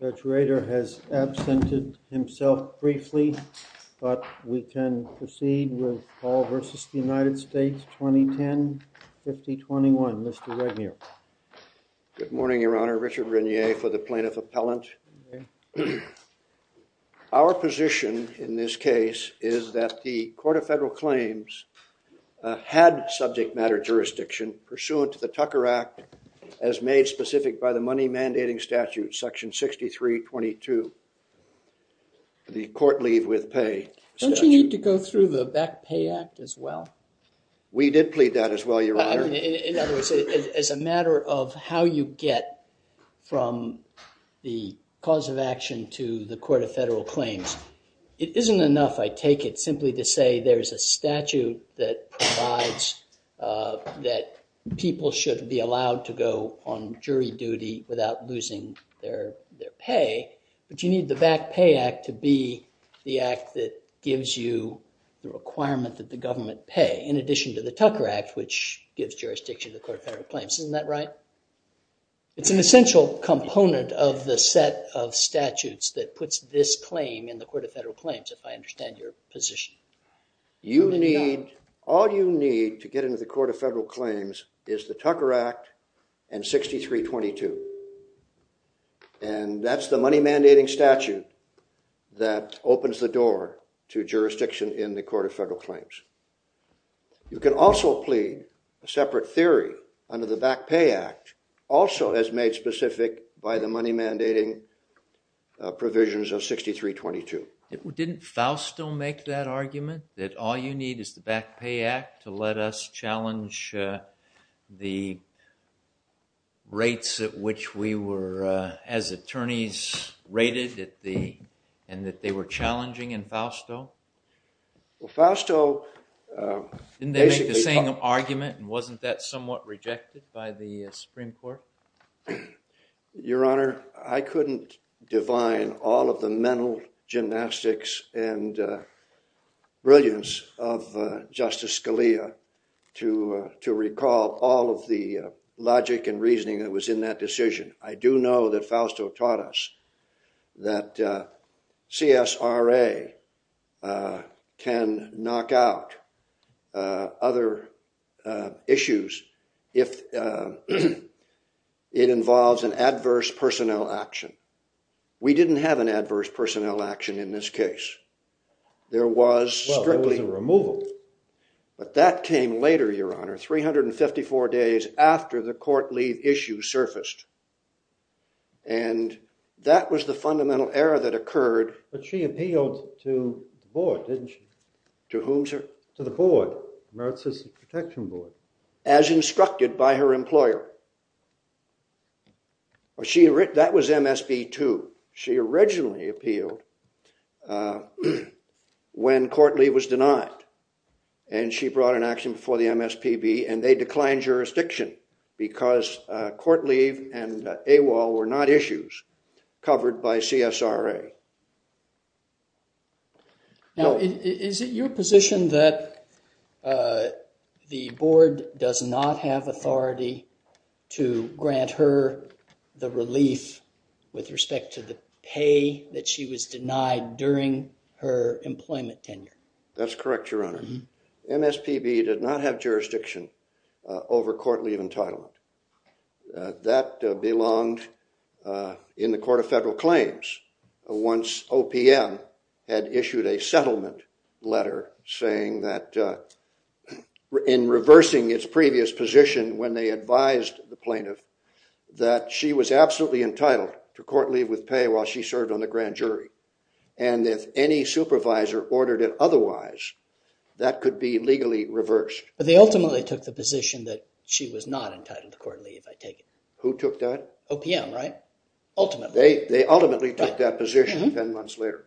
Senator Rader has absented himself briefly, but we can proceed with Paul v. United States 2010-2021. Mr. Regnier. Good morning, Your Honor. Richard Regnier for the plaintiff appellant. Our position in this case is that the Court of Federal Claims had subject matter jurisdiction pursuant to the Tucker Act as made specific by the money mandating statute section 6322 for the court leave with pay. Don't you need to go through the Beck Pay Act as well? We did plead that as well, Your Honor. In other words, as a matter of how you get from the cause of action to the Court of Federal Claims, it isn't enough, I take it, simply to say there's a statute that provides that people should be allowed to go on jury duty without losing their pay, but you need the Beck Pay Act to be the act that gives you the requirement that the government pay in addition to the Tucker Act, which gives jurisdiction to the Court of Federal Claims. Isn't that right? It's an essential component of the set of statutes that puts this claim in the All you need to get into the Court of Federal Claims is the Tucker Act and 6322, and that's the money mandating statute that opens the door to jurisdiction in the Court of Federal Claims. You can also plead a separate theory under the Beck Pay Act, also as made specific by the money mandating provisions of 6322. Didn't Fausto make that argument that all you need is the Beck Pay Act to let us challenge the rates at which we were, as attorneys, rated and that they were challenging in Fausto? Well, Fausto... Didn't they make the same argument and wasn't that somewhat rejected by the Supreme Court? Well, Your Honor, I couldn't divine all of the mental gymnastics and brilliance of Justice Scalia to recall all of the logic and reasoning that was in that decision. I do know that Fausto taught us that CSRA can knock out other issues if it involves an adverse personnel action. We didn't have an adverse personnel action in this case. There was strictly... Well, there was a removal. But that came later, Your Honor, 354 days after the court leave issue surfaced, and that was the fundamental error that occurred. But she appealed to the board, didn't she? To whom, sir? To the board, the Merit System Protection Board. As instructed by her employer. That was MSP2. She originally appealed when court leave was denied, and she brought an action before the MSPB, and they declined jurisdiction because court leave and AWOL were not issues covered by CSRA. Now, is it your position that the board does not have authority to grant her the relief with respect to the pay that she was denied during her employment tenure? That's correct, Your Honor. MSPB did not have jurisdiction over court leave entitlement. That belonged in the Court of Federal Claims, once OPM had issued a settlement letter saying that, in reversing its previous position when they advised the plaintiff, that she was absolutely entitled to court leave with pay while she served on the grand jury. And if any supervisor ordered it otherwise, that could be legally reversed. But they ultimately took the position that she was not entitled to court leave, I take it? Who took that? OPM, right? Ultimately. They ultimately took that position 10 months later.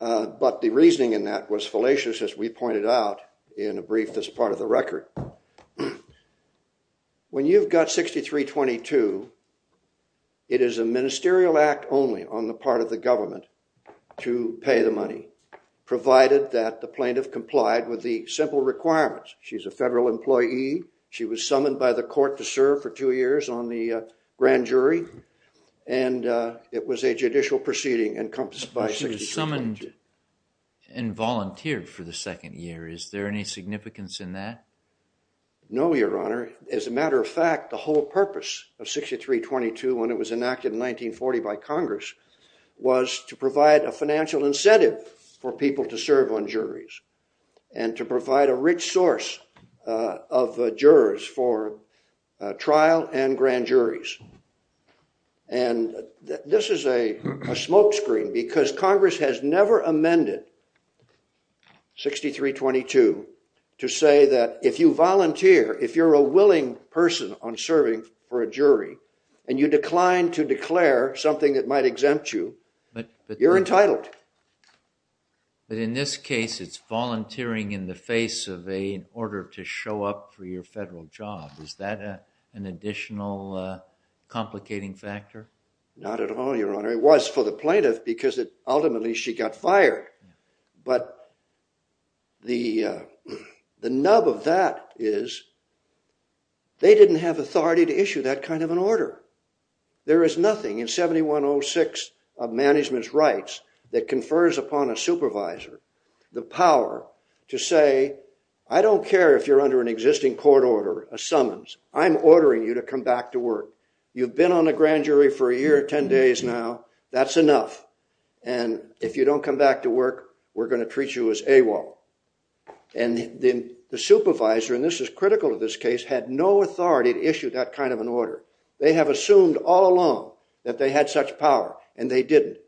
But the reasoning in that was fallacious, as we pointed out in a brief that's part of the record. Now, when you've got 6322, it is a ministerial act only on the part of the government to pay the money, provided that the plaintiff complied with the simple requirements. She's a federal employee. She was summoned by the court to serve for two years on the grand jury. And it was a judicial proceeding encompassed by 6322. She was summoned and volunteered for the second year. Is there any significance in that? No, Your Honor. As a matter of fact, the whole purpose of 6322 when it was enacted in 1940 by Congress was to provide a financial incentive for people to serve on juries and to provide a rich source of jurors for trial and grand juries. And this is a smokescreen, because Congress has never amended 6322 to say that if you volunteer, if you're a willing person on serving for a jury and you decline to declare something that might exempt you, you're entitled. But in this case, it's volunteering in the face of an order to show up for your federal job. Is that an additional complicating factor? Not at all, Your Honor. It was for the plaintiff, because ultimately she got fired. But the nub of that is they didn't have authority to issue that kind of an order. There is nothing in 7106 of management's rights that confers upon a supervisor the power to say, I don't care if you're under an existing court order, a summons. I'm ordering you to come back to work. You've been on a grand jury for a year, 10 days now. That's enough. And if you don't come back to work, we're going to treat you as AWOL. And the supervisor, and this is critical to this case, had no authority to issue that kind of an order. They have assumed all along that they had such power, and they didn't.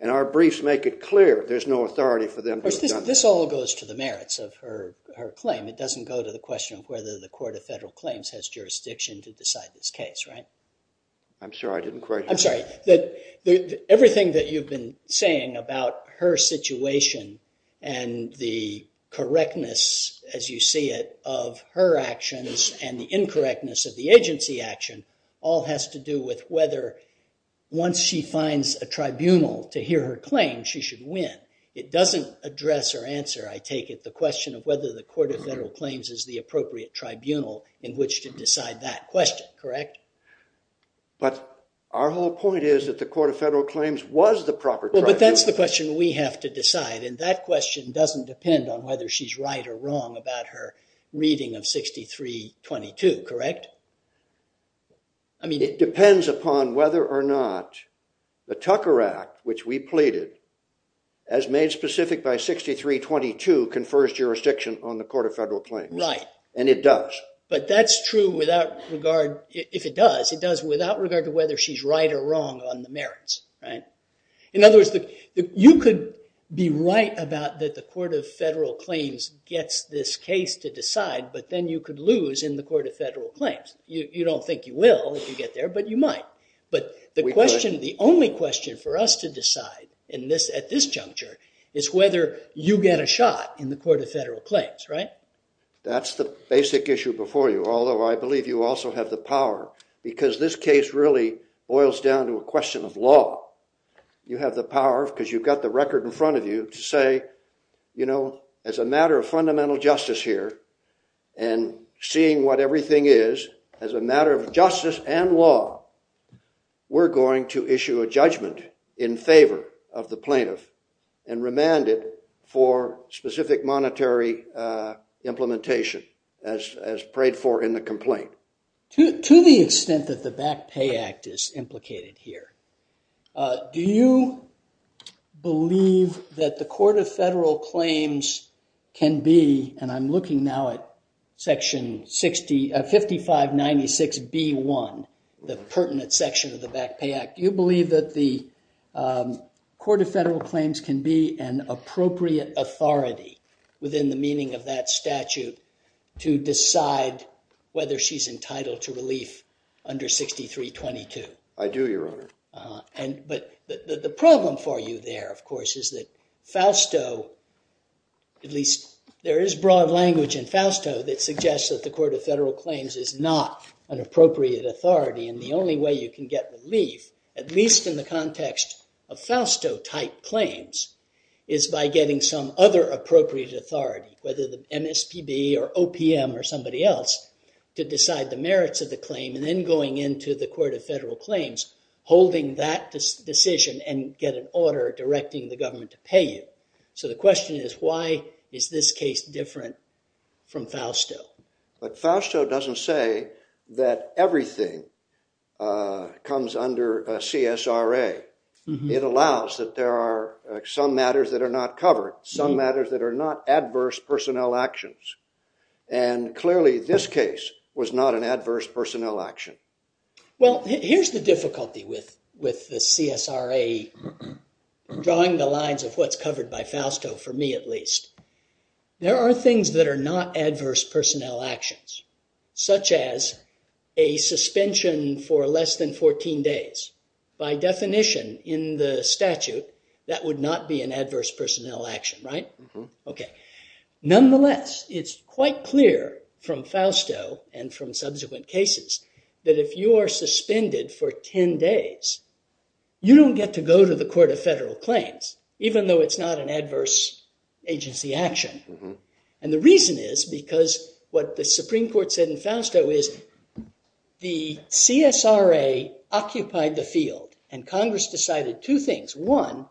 And our briefs make it clear there's no authority for them to have done that. This all goes to the merits of her claim. It doesn't go to the question of whether the Court of Federal Claims has jurisdiction to decide this case, right? I'm sorry, I didn't quite hear you. That everything that you've been saying about her situation and the correctness, as you see it, of her actions and the incorrectness of the agency action all has to do with whether once she finds a tribunal to hear her claim, she should win. It doesn't address or answer, I take it, the question of whether the Court of Federal Claims is the appropriate tribunal in which to decide that question, correct? But our whole point is that the Court of Federal Claims was the proper tribunal. Well, but that's the question we have to decide. And that question doesn't depend on whether she's right or wrong about her reading of 6322, correct? I mean, it depends upon whether or not the Tucker Act, which we pleaded, as made specific by 6322, confers jurisdiction on the Court of Federal Claims. Right. And it does. But that's true without regard, if it does, it does without regard to whether she's right or wrong on the merits, right? In other words, you could be right about that the Court of Federal Claims gets this case to decide, but then you could lose in the Court of Federal Claims. You don't think you will if you get there, but you might. But the question, the only question for us to decide at this juncture is whether you get a shot in the Court of Federal Claims, right? That's the basic issue before you, although I believe you also have the power, because this case really boils down to a question of law. You have the power, because you've got the record in front of you, to say, you know, as a matter of fundamental justice here, and seeing what everything is, as a matter of justice and law, we're going to issue a judgment in favor of the plaintiff and remand it for specific monetary implementation as prayed for in the complaint. To the extent that the Back Pay Act is implicated here, do you believe that the Court of Federal Claims can be, and I'm looking now at section 5596B1, the pertinent section of the Back Pay Act, do you believe that the Court of Federal Claims can be an appropriate authority within the meaning of that statute to decide whether she's entitled to relief under 6322? I do, Your Honor. But the problem for you there, of course, is that Fausto, at least there is broad language in Fausto that suggests that the Court of Federal Claims is not an appropriate authority, and the only way you can get relief, at least in the context of Fausto-type claims, is by getting some other appropriate authority, whether the MSPB or OPM or somebody else, to decide the merits of the claim, and then going into the Court of Federal Claims, holding that decision and get an order directing the government to pay you. So the question is, why is this case different from Fausto? But Fausto doesn't say that everything comes under CSRA. It allows that there are some matters that are not covered, some matters that are not adverse personnel actions, and clearly this case was not an adverse personnel action. Well, here's the difficulty with the CSRA drawing the lines of what's covered by Fausto, for me at least. There are things that are not adverse personnel actions, such as a suspension for less than 14 days. By definition in the statute, that would not be an adverse personnel action, right? Okay. Nonetheless, it's quite clear from Fausto and from subsequent cases that if you are suspended for 10 days, you don't get to go to the Court of Federal Claims, even though it's not an adverse agency action. And the reason is, because what the Supreme Court said in Fausto is, the CSRA occupied the field and Congress decided two things. One,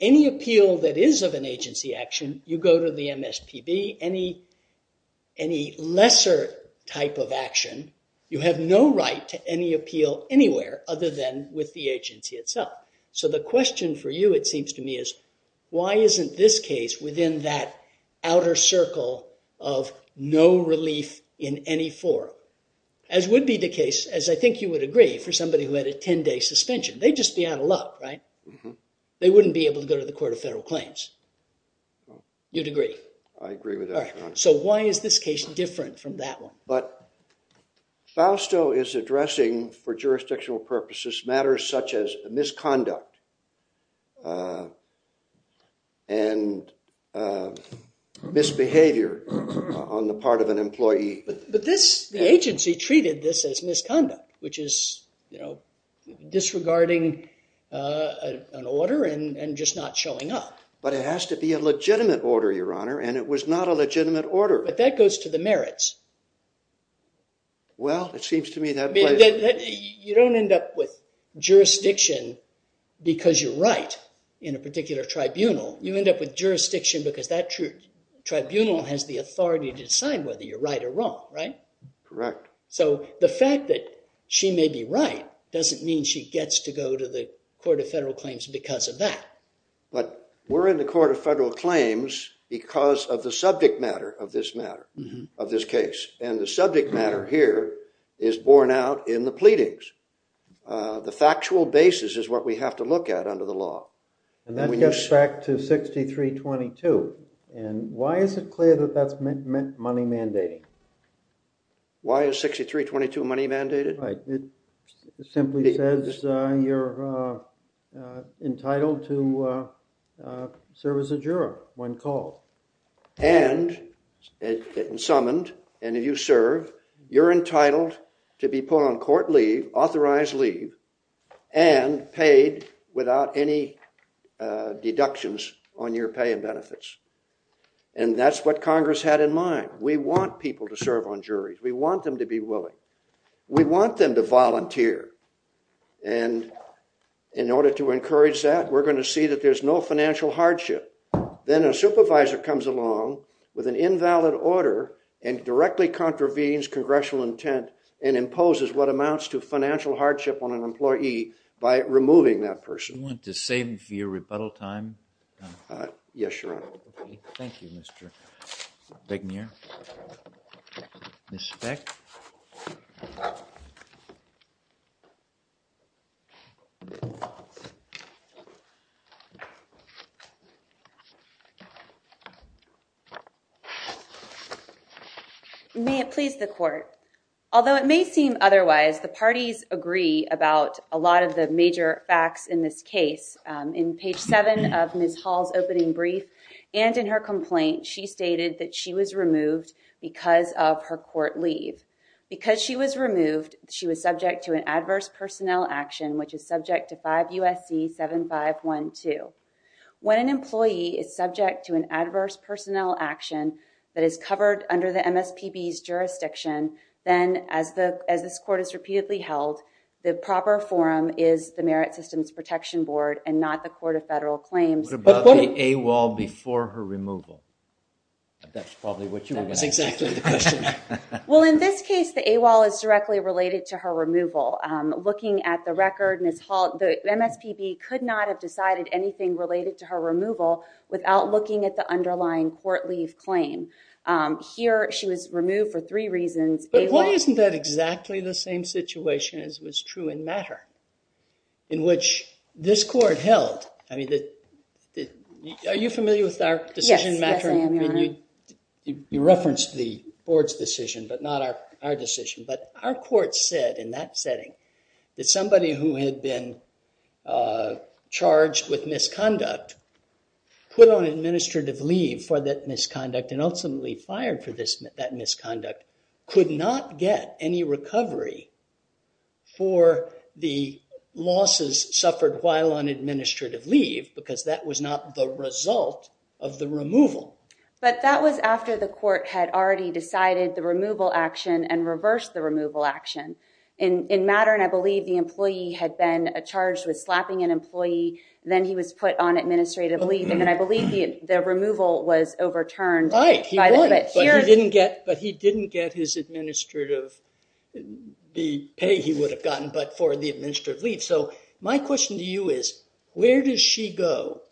any appeal that is of an agency action, you go to the MSPB. Any lesser type of action, you have no right to any appeal anywhere other than with the agency itself. So the question for you, it seems to me, is, why isn't this case within that outer circle of no relief in any form? As would be the case, as I think you would agree, for somebody who had a 10-day suspension. They'd just be out of luck, right? They wouldn't be able to go to the Court of Federal Claims. You'd agree? I agree with that, Your Honor. So why is this case different from that one? But Fausto is addressing, for jurisdictional purposes, matters such as misconduct and misbehavior on the part of an employee. But the agency treated this as misconduct, which is disregarding an order and just not showing up. But it has to be a legitimate order, Your Honor. And it was not a legitimate order. But that goes to the merits. Well, it seems to me that way. You don't end up with jurisdiction because you're right in a particular tribunal. You end up with jurisdiction because that tribunal has the authority to decide whether you're right or wrong, right? Correct. So the fact that she may be right doesn't mean she gets to go to the Court of Federal Claims because of that. But we're in the Court of Federal Claims because of the subject matter of this case. And the subject matter here is borne out in the pleadings. The factual basis is what we have to look at under the law. And that gets back to 6322. And why is it clear that that's money mandating? Why is 6322 money mandated? Right. It simply says you're entitled to serve as a juror when called. And summoned. And if you serve, you're entitled to be put on court leave, authorized leave, and paid without any deductions on your pay and benefits. And that's what Congress had in mind. We want people to serve on juries. We want them to be willing. We want them to volunteer. And in order to encourage that, we're going to see that there's no financial hardship. Then a supervisor comes along with an invalid order and directly contravenes congressional intent and imposes what amounts to financial hardship on an employee by removing that person. You want to save me for your rebuttal time? Yes, Your Honor. Thank you, Mr. Begnier. Ms. Speck. May it please the court. Although it may seem otherwise, the parties agree about a lot of the major facts in this case. In page 7 of Ms. Hall's opening brief and in her complaint, she stated that she was removed because of her court leave. Because she was removed, she was subject to an adverse personnel action, which is subject to 5 U.S.C. 7512. When an employee is subject to an adverse personnel action that is covered under the MSPB's jurisdiction, then as this court has repeatedly held, the proper forum is the Merit Systems Protection Board and not the Court of Federal Claims. What about the AWOL before her removal? That's probably what you were asking. That's exactly the question. Well, in this case, the AWOL is directly related to her removal. Looking at the record, Ms. Hall, the MSPB could not have decided anything related to her removal without looking at the underlying court leave claim. Here, she was removed for three reasons. But why isn't that exactly the same situation as was true in Matter, in which this court held? Are you familiar with our decision in Matter? Yes, I am, Your Honor. You referenced the board's decision, but not our decision. Our court said in that setting that somebody who had been charged with misconduct, put on administrative leave for that misconduct, and ultimately fired for that misconduct, could not get any recovery for the losses suffered while on administrative leave because that was not the result of the removal. But that was after the court had already decided the removal action and reversed the removal action. In Matter, and I believe the employee had been charged with slapping an employee, then he was put on administrative leave, and then I believe the removal was overturned. Right, but he didn't get his administrative pay he would have gotten, but for the administrative leave. So my question to you is, where does she go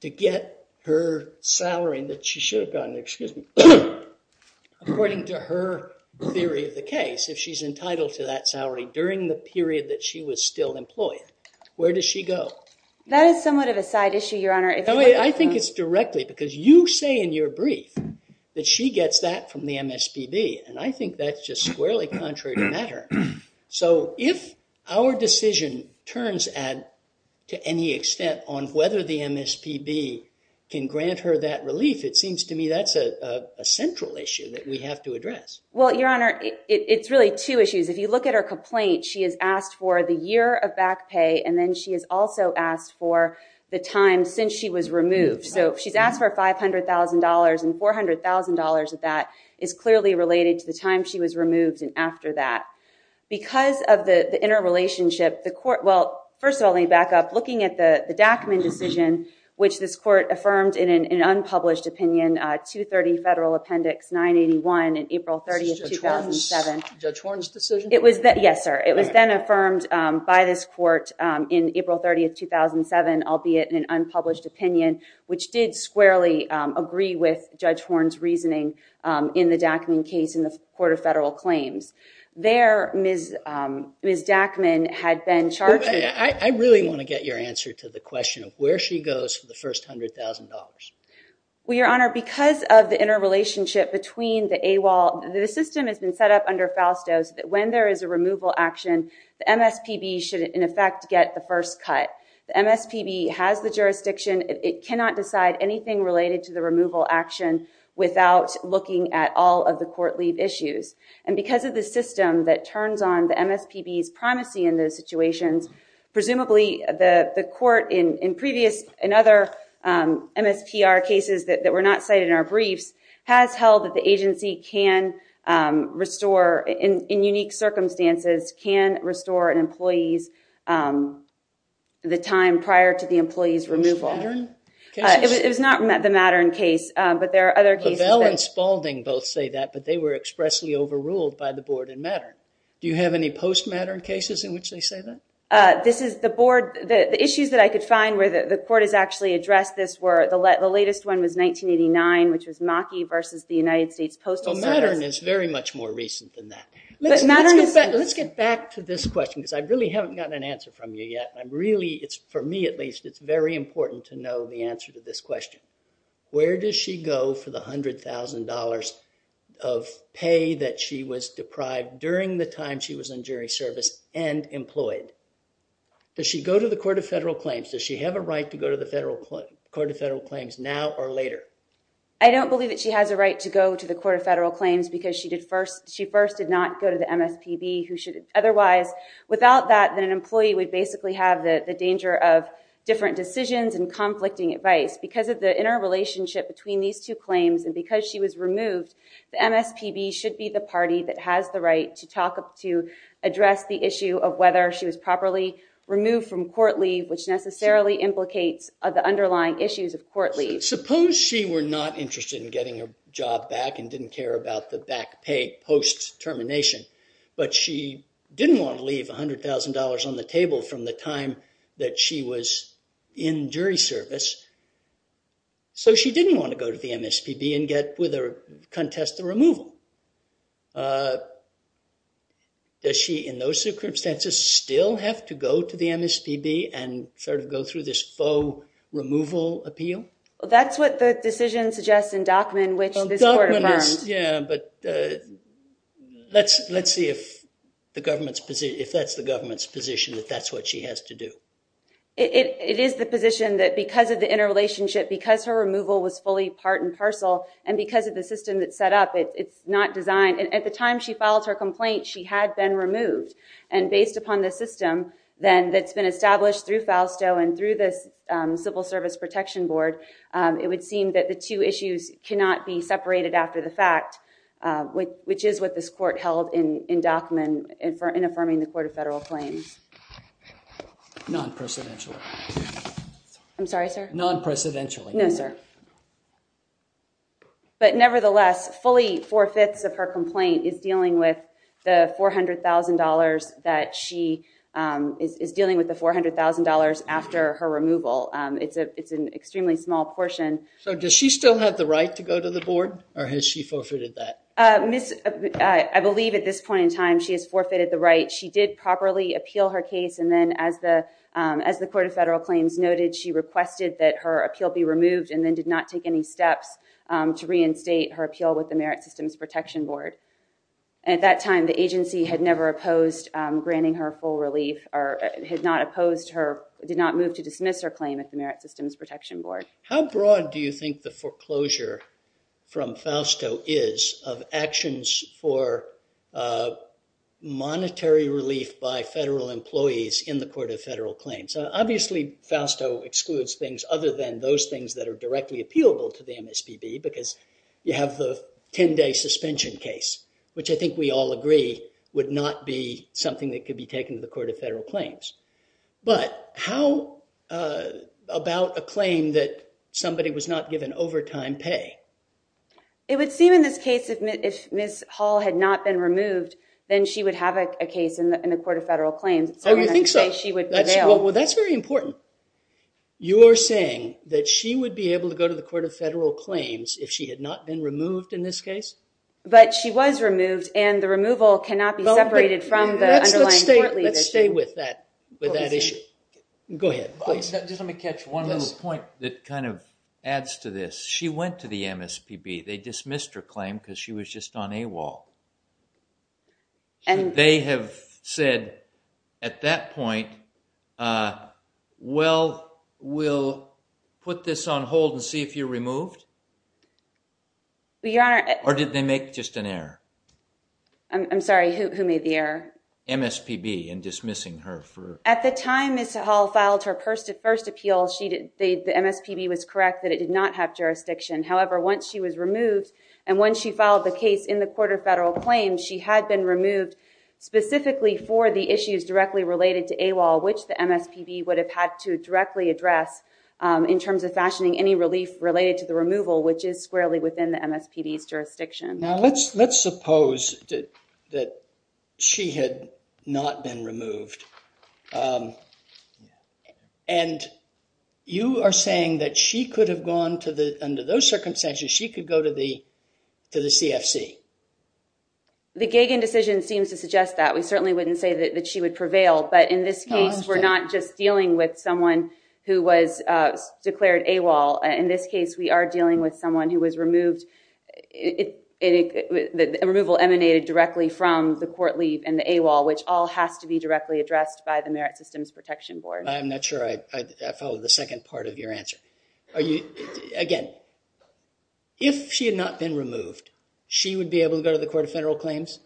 to get her salary that she should have gotten, excuse me, according to her theory of the case, if she's entitled to that salary during the period that she was still employed? Where does she go? That is somewhat of a side issue, Your Honor. I think it's directly because you say in your brief that she gets that from the MSPB, and I think that's just squarely contrary to Matter. So if our decision turns to any extent on whether the MSPB can grant her that relief, it seems to me that's a central issue that we have to address. Well, Your Honor, it's really two issues. If you look at her complaint, she has asked for the year of back pay, and then she has also asked for the time since she was removed. So she's asked for $500,000, and $400,000 of that is clearly related to the time she was removed and after that. Because of the interrelationship, the court... Well, first of all, let me back up. Looking at the Dackman decision, which this court affirmed in an unpublished opinion, 230 Federal Appendix 981 in April 30, 2007. Judge Horne's decision? It was... Yes, sir. It was then affirmed by this court in April 30, 2007, albeit in an unpublished opinion, which did squarely agree with Judge Horne's reasoning in the Dackman case in the Court of Federal Claims. There, Ms. Dackman had been charged... I really want to get your answer to the question of where she goes for the first $100,000. Well, Your Honor, because of the interrelationship between the AWOL... The system has been set up under FALSTO so that when there is a removal action, the MSPB should, in effect, get the first cut. The MSPB has the jurisdiction. It cannot decide anything related to the removal action without looking at all of the court leave issues. And because of the system that turns on the MSPB's primacy in those situations, presumably, the court in previous... In other MSPR cases that were not cited in our briefs, has held that the agency can restore, in unique circumstances, can restore an employee's... The time prior to the employee's removal. Was it the Mattern case? It was not the Mattern case, but there are other cases that... By the board in Mattern. Do you have any post-Mattern cases in which they say that? This is the board... The issues that I could find where the court has actually addressed this were the latest one was 1989, which was Maki versus the United States Postal Service. Mattern is very much more recent than that. Let's get back to this question because I really haven't gotten an answer from you yet. I'm really... It's for me, at least, it's very important to know the answer to this question. Where does she go for the $100,000 of pay that she was deprived during the time she was in jury service and employed? Does she go to the Court of Federal Claims? Does she have a right to go to the Court of Federal Claims now or later? I don't believe that she has a right to go to the Court of Federal Claims because she first did not go to the MSPB who should... Otherwise, without that, then an employee would basically have the danger of different decisions and conflicting advice. Because of the interrelationship between these two claims and because she was removed, the MSPB should be the party that has the right to talk up to address the issue of whether she was properly removed from court leave, which necessarily implicates the underlying issues of court leave. Suppose she were not interested in getting her job back and didn't care about the back pay post-termination, but she didn't want to leave $100,000 on the table from the time that she was in jury service. So she didn't want to go to the MSPB and contest the removal. Does she, in those circumstances, still have to go to the MSPB and sort of go through this faux removal appeal? That's what the decision suggests in Dockman, which this court affirmed. Yeah, but let's see if that's the government's position that that's what she has to do. It is the position that because of the interrelationship, because her removal was fully part and parcel, and because of the system that's set up, it's not designed. At the time she filed her complaint, she had been removed. And based upon the system, then, that's been established through FALSTO and through this Civil Service Protection Board, it would seem that the two issues cannot be separated after the fact, which is what this court held in Dockman in affirming the Court of Federal Claims. Non-presidential. I'm sorry, sir? Non-presidential. No, sir. But nevertheless, fully four-fifths of her complaint is dealing with the $400,000 that she is dealing with the $400,000 after her removal. It's an extremely small portion. So does she still have the right to go to the board, or has she forfeited that? I believe at this point in time, she has forfeited the right. She did properly appeal her case, and then as the Court of Federal Claims noted, she requested that her appeal be removed and then did not take any steps to reinstate her appeal with the Merit Systems Protection Board. At that time, the agency had never opposed granting her full relief, or did not move to dismiss her claim at the Merit Systems Protection Board. How broad do you think the foreclosure from FALSTO is of actions for monetary relief by federal employees in the Court of Federal Claims? Obviously, FALSTO excludes things other than those things that are directly appealable to the MSPB, because you have the 10-day suspension case, which I think we all agree would not be something that could be taken to the Court of Federal Claims. But how about a claim that somebody was not given overtime pay? It would seem in this case, if Ms. Hall had not been removed, then she would have a case in the Court of Federal Claims. Oh, you think so? She would prevail. That's very important. You're saying that she would be able to go to the Court of Federal Claims if she had not been removed in this case? But she was removed, and the removal cannot be separated from the underlying court leave issue. Let's stay with that issue. Go ahead. Just let me catch one little point that kind of adds to this. She went to the MSPB. They dismissed her claim because she was just on AWOL. Should they have said at that point, well, we'll put this on hold and see if you're removed? Or did they make just an error? I'm sorry, who made the error? MSPB in dismissing her. At the time Ms. Hall filed her first appeal, the MSPB was correct that it did not have However, once she was removed, and when she filed the case in the Court of Federal Claims, she had been removed specifically for the issues directly related to AWOL, which the MSPB would have had to directly address in terms of fashioning any relief related to the removal, which is squarely within the MSPB's jurisdiction. Now, let's suppose that she had not been removed. And you are saying that she could have gone to the, under those circumstances, she could go to the to the CFC. The Gagan decision seems to suggest that. We certainly wouldn't say that she would prevail. But in this case, we're not just dealing with someone who was declared AWOL. In this case, we are dealing with someone who was removed. Removal emanated directly from the court leave and the AWOL, which all has to be directly addressed. By the Merit Systems Protection Board. I'm not sure I follow the second part of your answer. Again, if she had not been removed, she would be able to go to the Court of Federal Claims?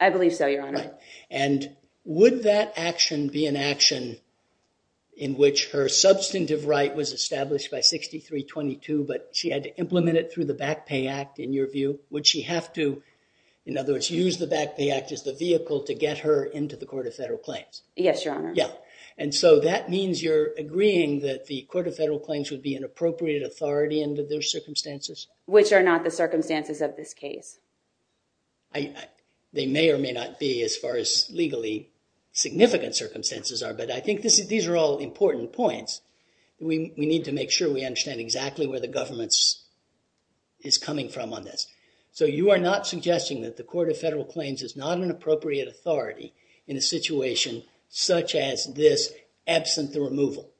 I believe so, Your Honor. And would that action be an action in which her substantive right was established by 6322, but she had to implement it through the Back Pay Act, in your view, would she have to, in other words, use the Back Pay Act as the vehicle to get her into the Court of Federal Claims? Yes, Your Honor. Yeah. And so that means you're agreeing that the Court of Federal Claims would be an appropriate authority under their circumstances? Which are not the circumstances of this case. They may or may not be as far as legally significant circumstances are. But I think these are all important points. We need to make sure we understand exactly where the government is coming from on this. So you are not suggesting that the Court of Federal Claims is not an appropriate authority in a situation such as this, absent the removal?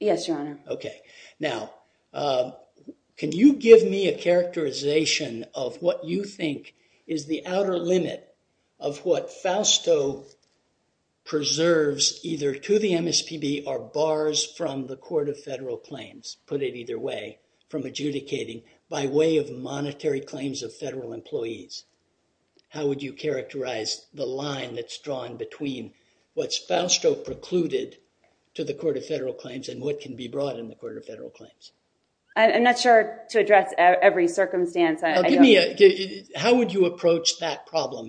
Yes, Your Honor. Okay. Now, can you give me a characterization of what you think is the outer limit of what Fausto preserves either to the MSPB or bars from the Court of Federal Claims, put it either way, from adjudicating by way of monetary claims of federal employees? How would you characterize the line that's drawn between what's Fausto precluded to the Court of Federal Claims and what can be brought in the Court of Federal Claims? I'm not sure to address every circumstance. How would you approach that problem?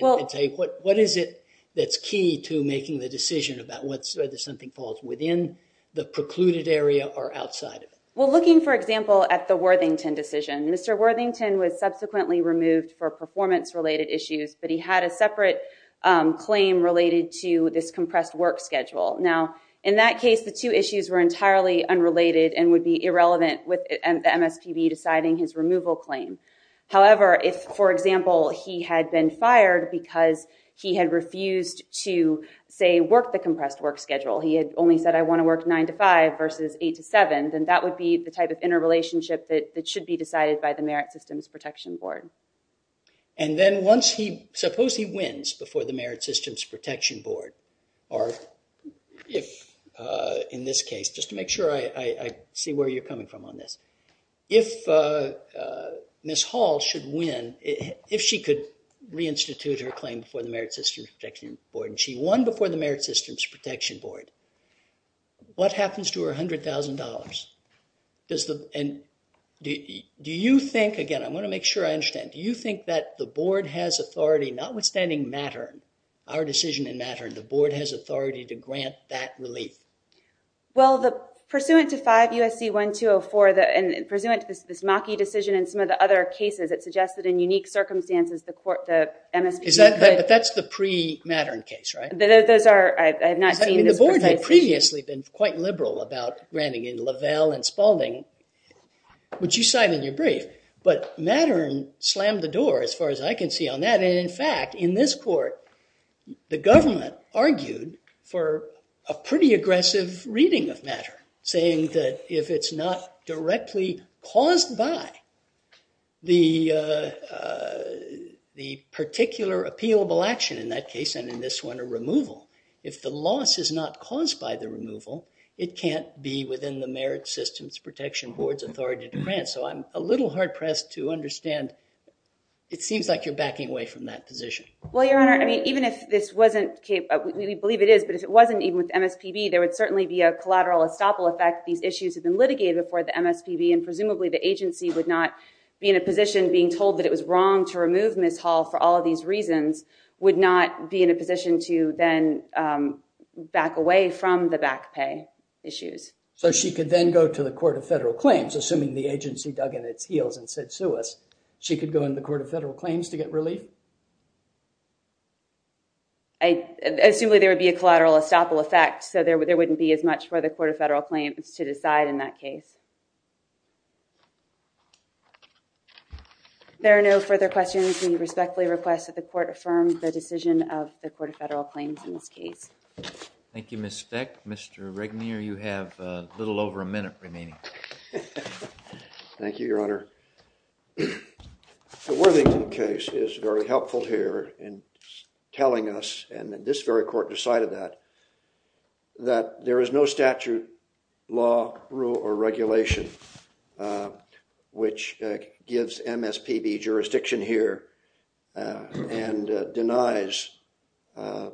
What is it that's key to making the decision about whether something falls within the precluded area or outside of it? Well, looking, for example, at the Worthington decision, Mr. Worthington was subsequently removed for performance-related issues, but he had a separate claim related to this compressed work schedule. Now, in that case, the two issues were entirely unrelated and would be irrelevant with the MSPB deciding his removal claim. However, if, for example, he had been fired because he had refused to, say, work the compressed work schedule, he had only said, I want to work nine to five versus eight to seven, then that would be the type of interrelationship that should be decided by the Merit Systems Protection Board. And then once he... Suppose he wins before the Merit Systems Protection Board, or if, in this case, just to make sure I see where you're coming from on this, if Ms. Hall should win, if she could reinstitute her claim before the Merit Systems Protection Board, and she won before the Merit Systems Protection Board, what happens to her $100,000? And do you think... Again, I want to make sure I understand. Do you think that the board has authority, notwithstanding Mattern, our decision in Mattern, the board has authority to grant that relief? Well, pursuant to 5 U.S.C. 1204, and pursuant to this Maki decision and some of the other cases, it suggests that in unique circumstances, the MSPB could... But that's the pre-Mattern case, right? Those are... I have not seen this... The board had previously been quite liberal about granting in Lavelle and Spalding, which you cite in your brief. But Mattern slammed the door, as far as I can see, on that. And in fact, in this court, the government argued for a pretty aggressive reading of Mattern, saying that if it's not directly caused by the particular appealable action in that case, and in this one, a removal, if the loss is not caused by the removal, it can't be within the Merit Systems Protection Board's authority to grant. So I'm a little hard-pressed to understand... It seems like you're backing away from that position. Well, Your Honor, I mean, even if this wasn't... We believe it is, but if it wasn't even with MSPB, there would certainly be a collateral estoppel effect. These issues have been litigated before the MSPB, and presumably the agency would not be in a position, being told that it was wrong to remove Ms. Hall for all of these reasons, would not be in a position to then back away from the back pay issues. So she could then go to the Court of Federal Claims, assuming the agency dug in its heels and said, sue us, she could go into the Court of Federal Claims to get relief? I assume there would be a collateral estoppel effect, so there wouldn't be as much for the Court of Federal Claims to decide in that case. There are no further questions. We respectfully request that the Court affirm the decision of the Court of Federal Claims in this case. Thank you, Ms. Speck. Mr. Regnier, you have a little over a minute remaining. Thank you, Your Honor. The Worthington case is very helpful here in telling us, and this very court decided that, that there is no statute, law, rule, or regulation which gives MSPB jurisdiction here and denies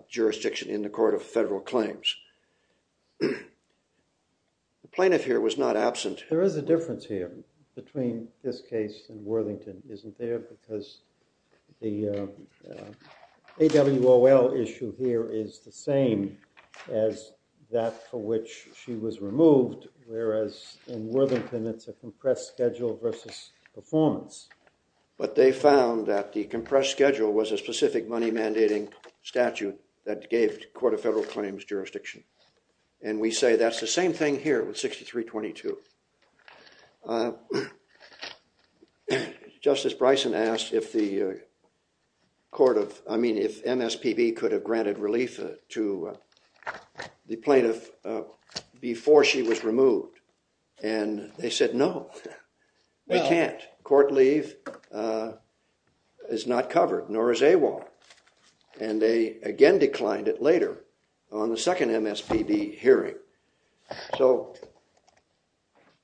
jurisdiction in the Court of Federal Claims. The plaintiff here was not absent. There is a difference here between this case and Worthington, isn't there? Because the AWOL issue here is the same as that for which she was removed, whereas in Worthington, it's a compressed schedule versus performance. But they found that the compressed schedule was a specific money-mandating statute that gave the Court of Federal Claims jurisdiction. And we say that's the same thing here with 6322. Justice Bryson asked if the MSPB could have granted relief to the plaintiff before she was removed. And they said no, they can't. Court leave is not covered, nor is AWOL. And they again declined it later on the second MSPB hearing. So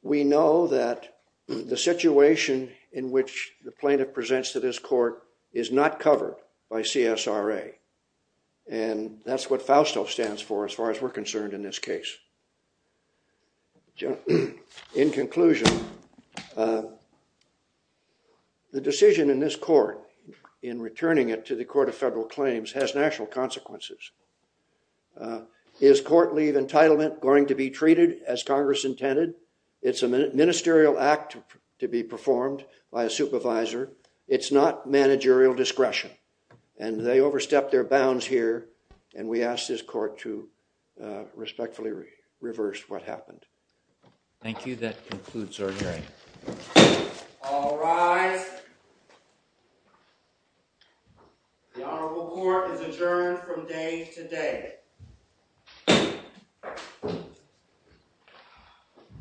we know that the situation in which the plaintiff presents to this court is not covered by CSRA. And that's what FAUSTO stands for as far as we're concerned in this case. In conclusion, the decision in this court, in returning it to the Court of Federal Claims has national consequences. Is court leave entitlement going to be treated as Congress intended? It's a ministerial act to be performed by a supervisor. It's not managerial discretion. And they overstepped their bounds here. And we ask this court to respectfully reverse what happened. Thank you. That concludes our hearing. All rise. The Honorable Court is adjourned from day to day.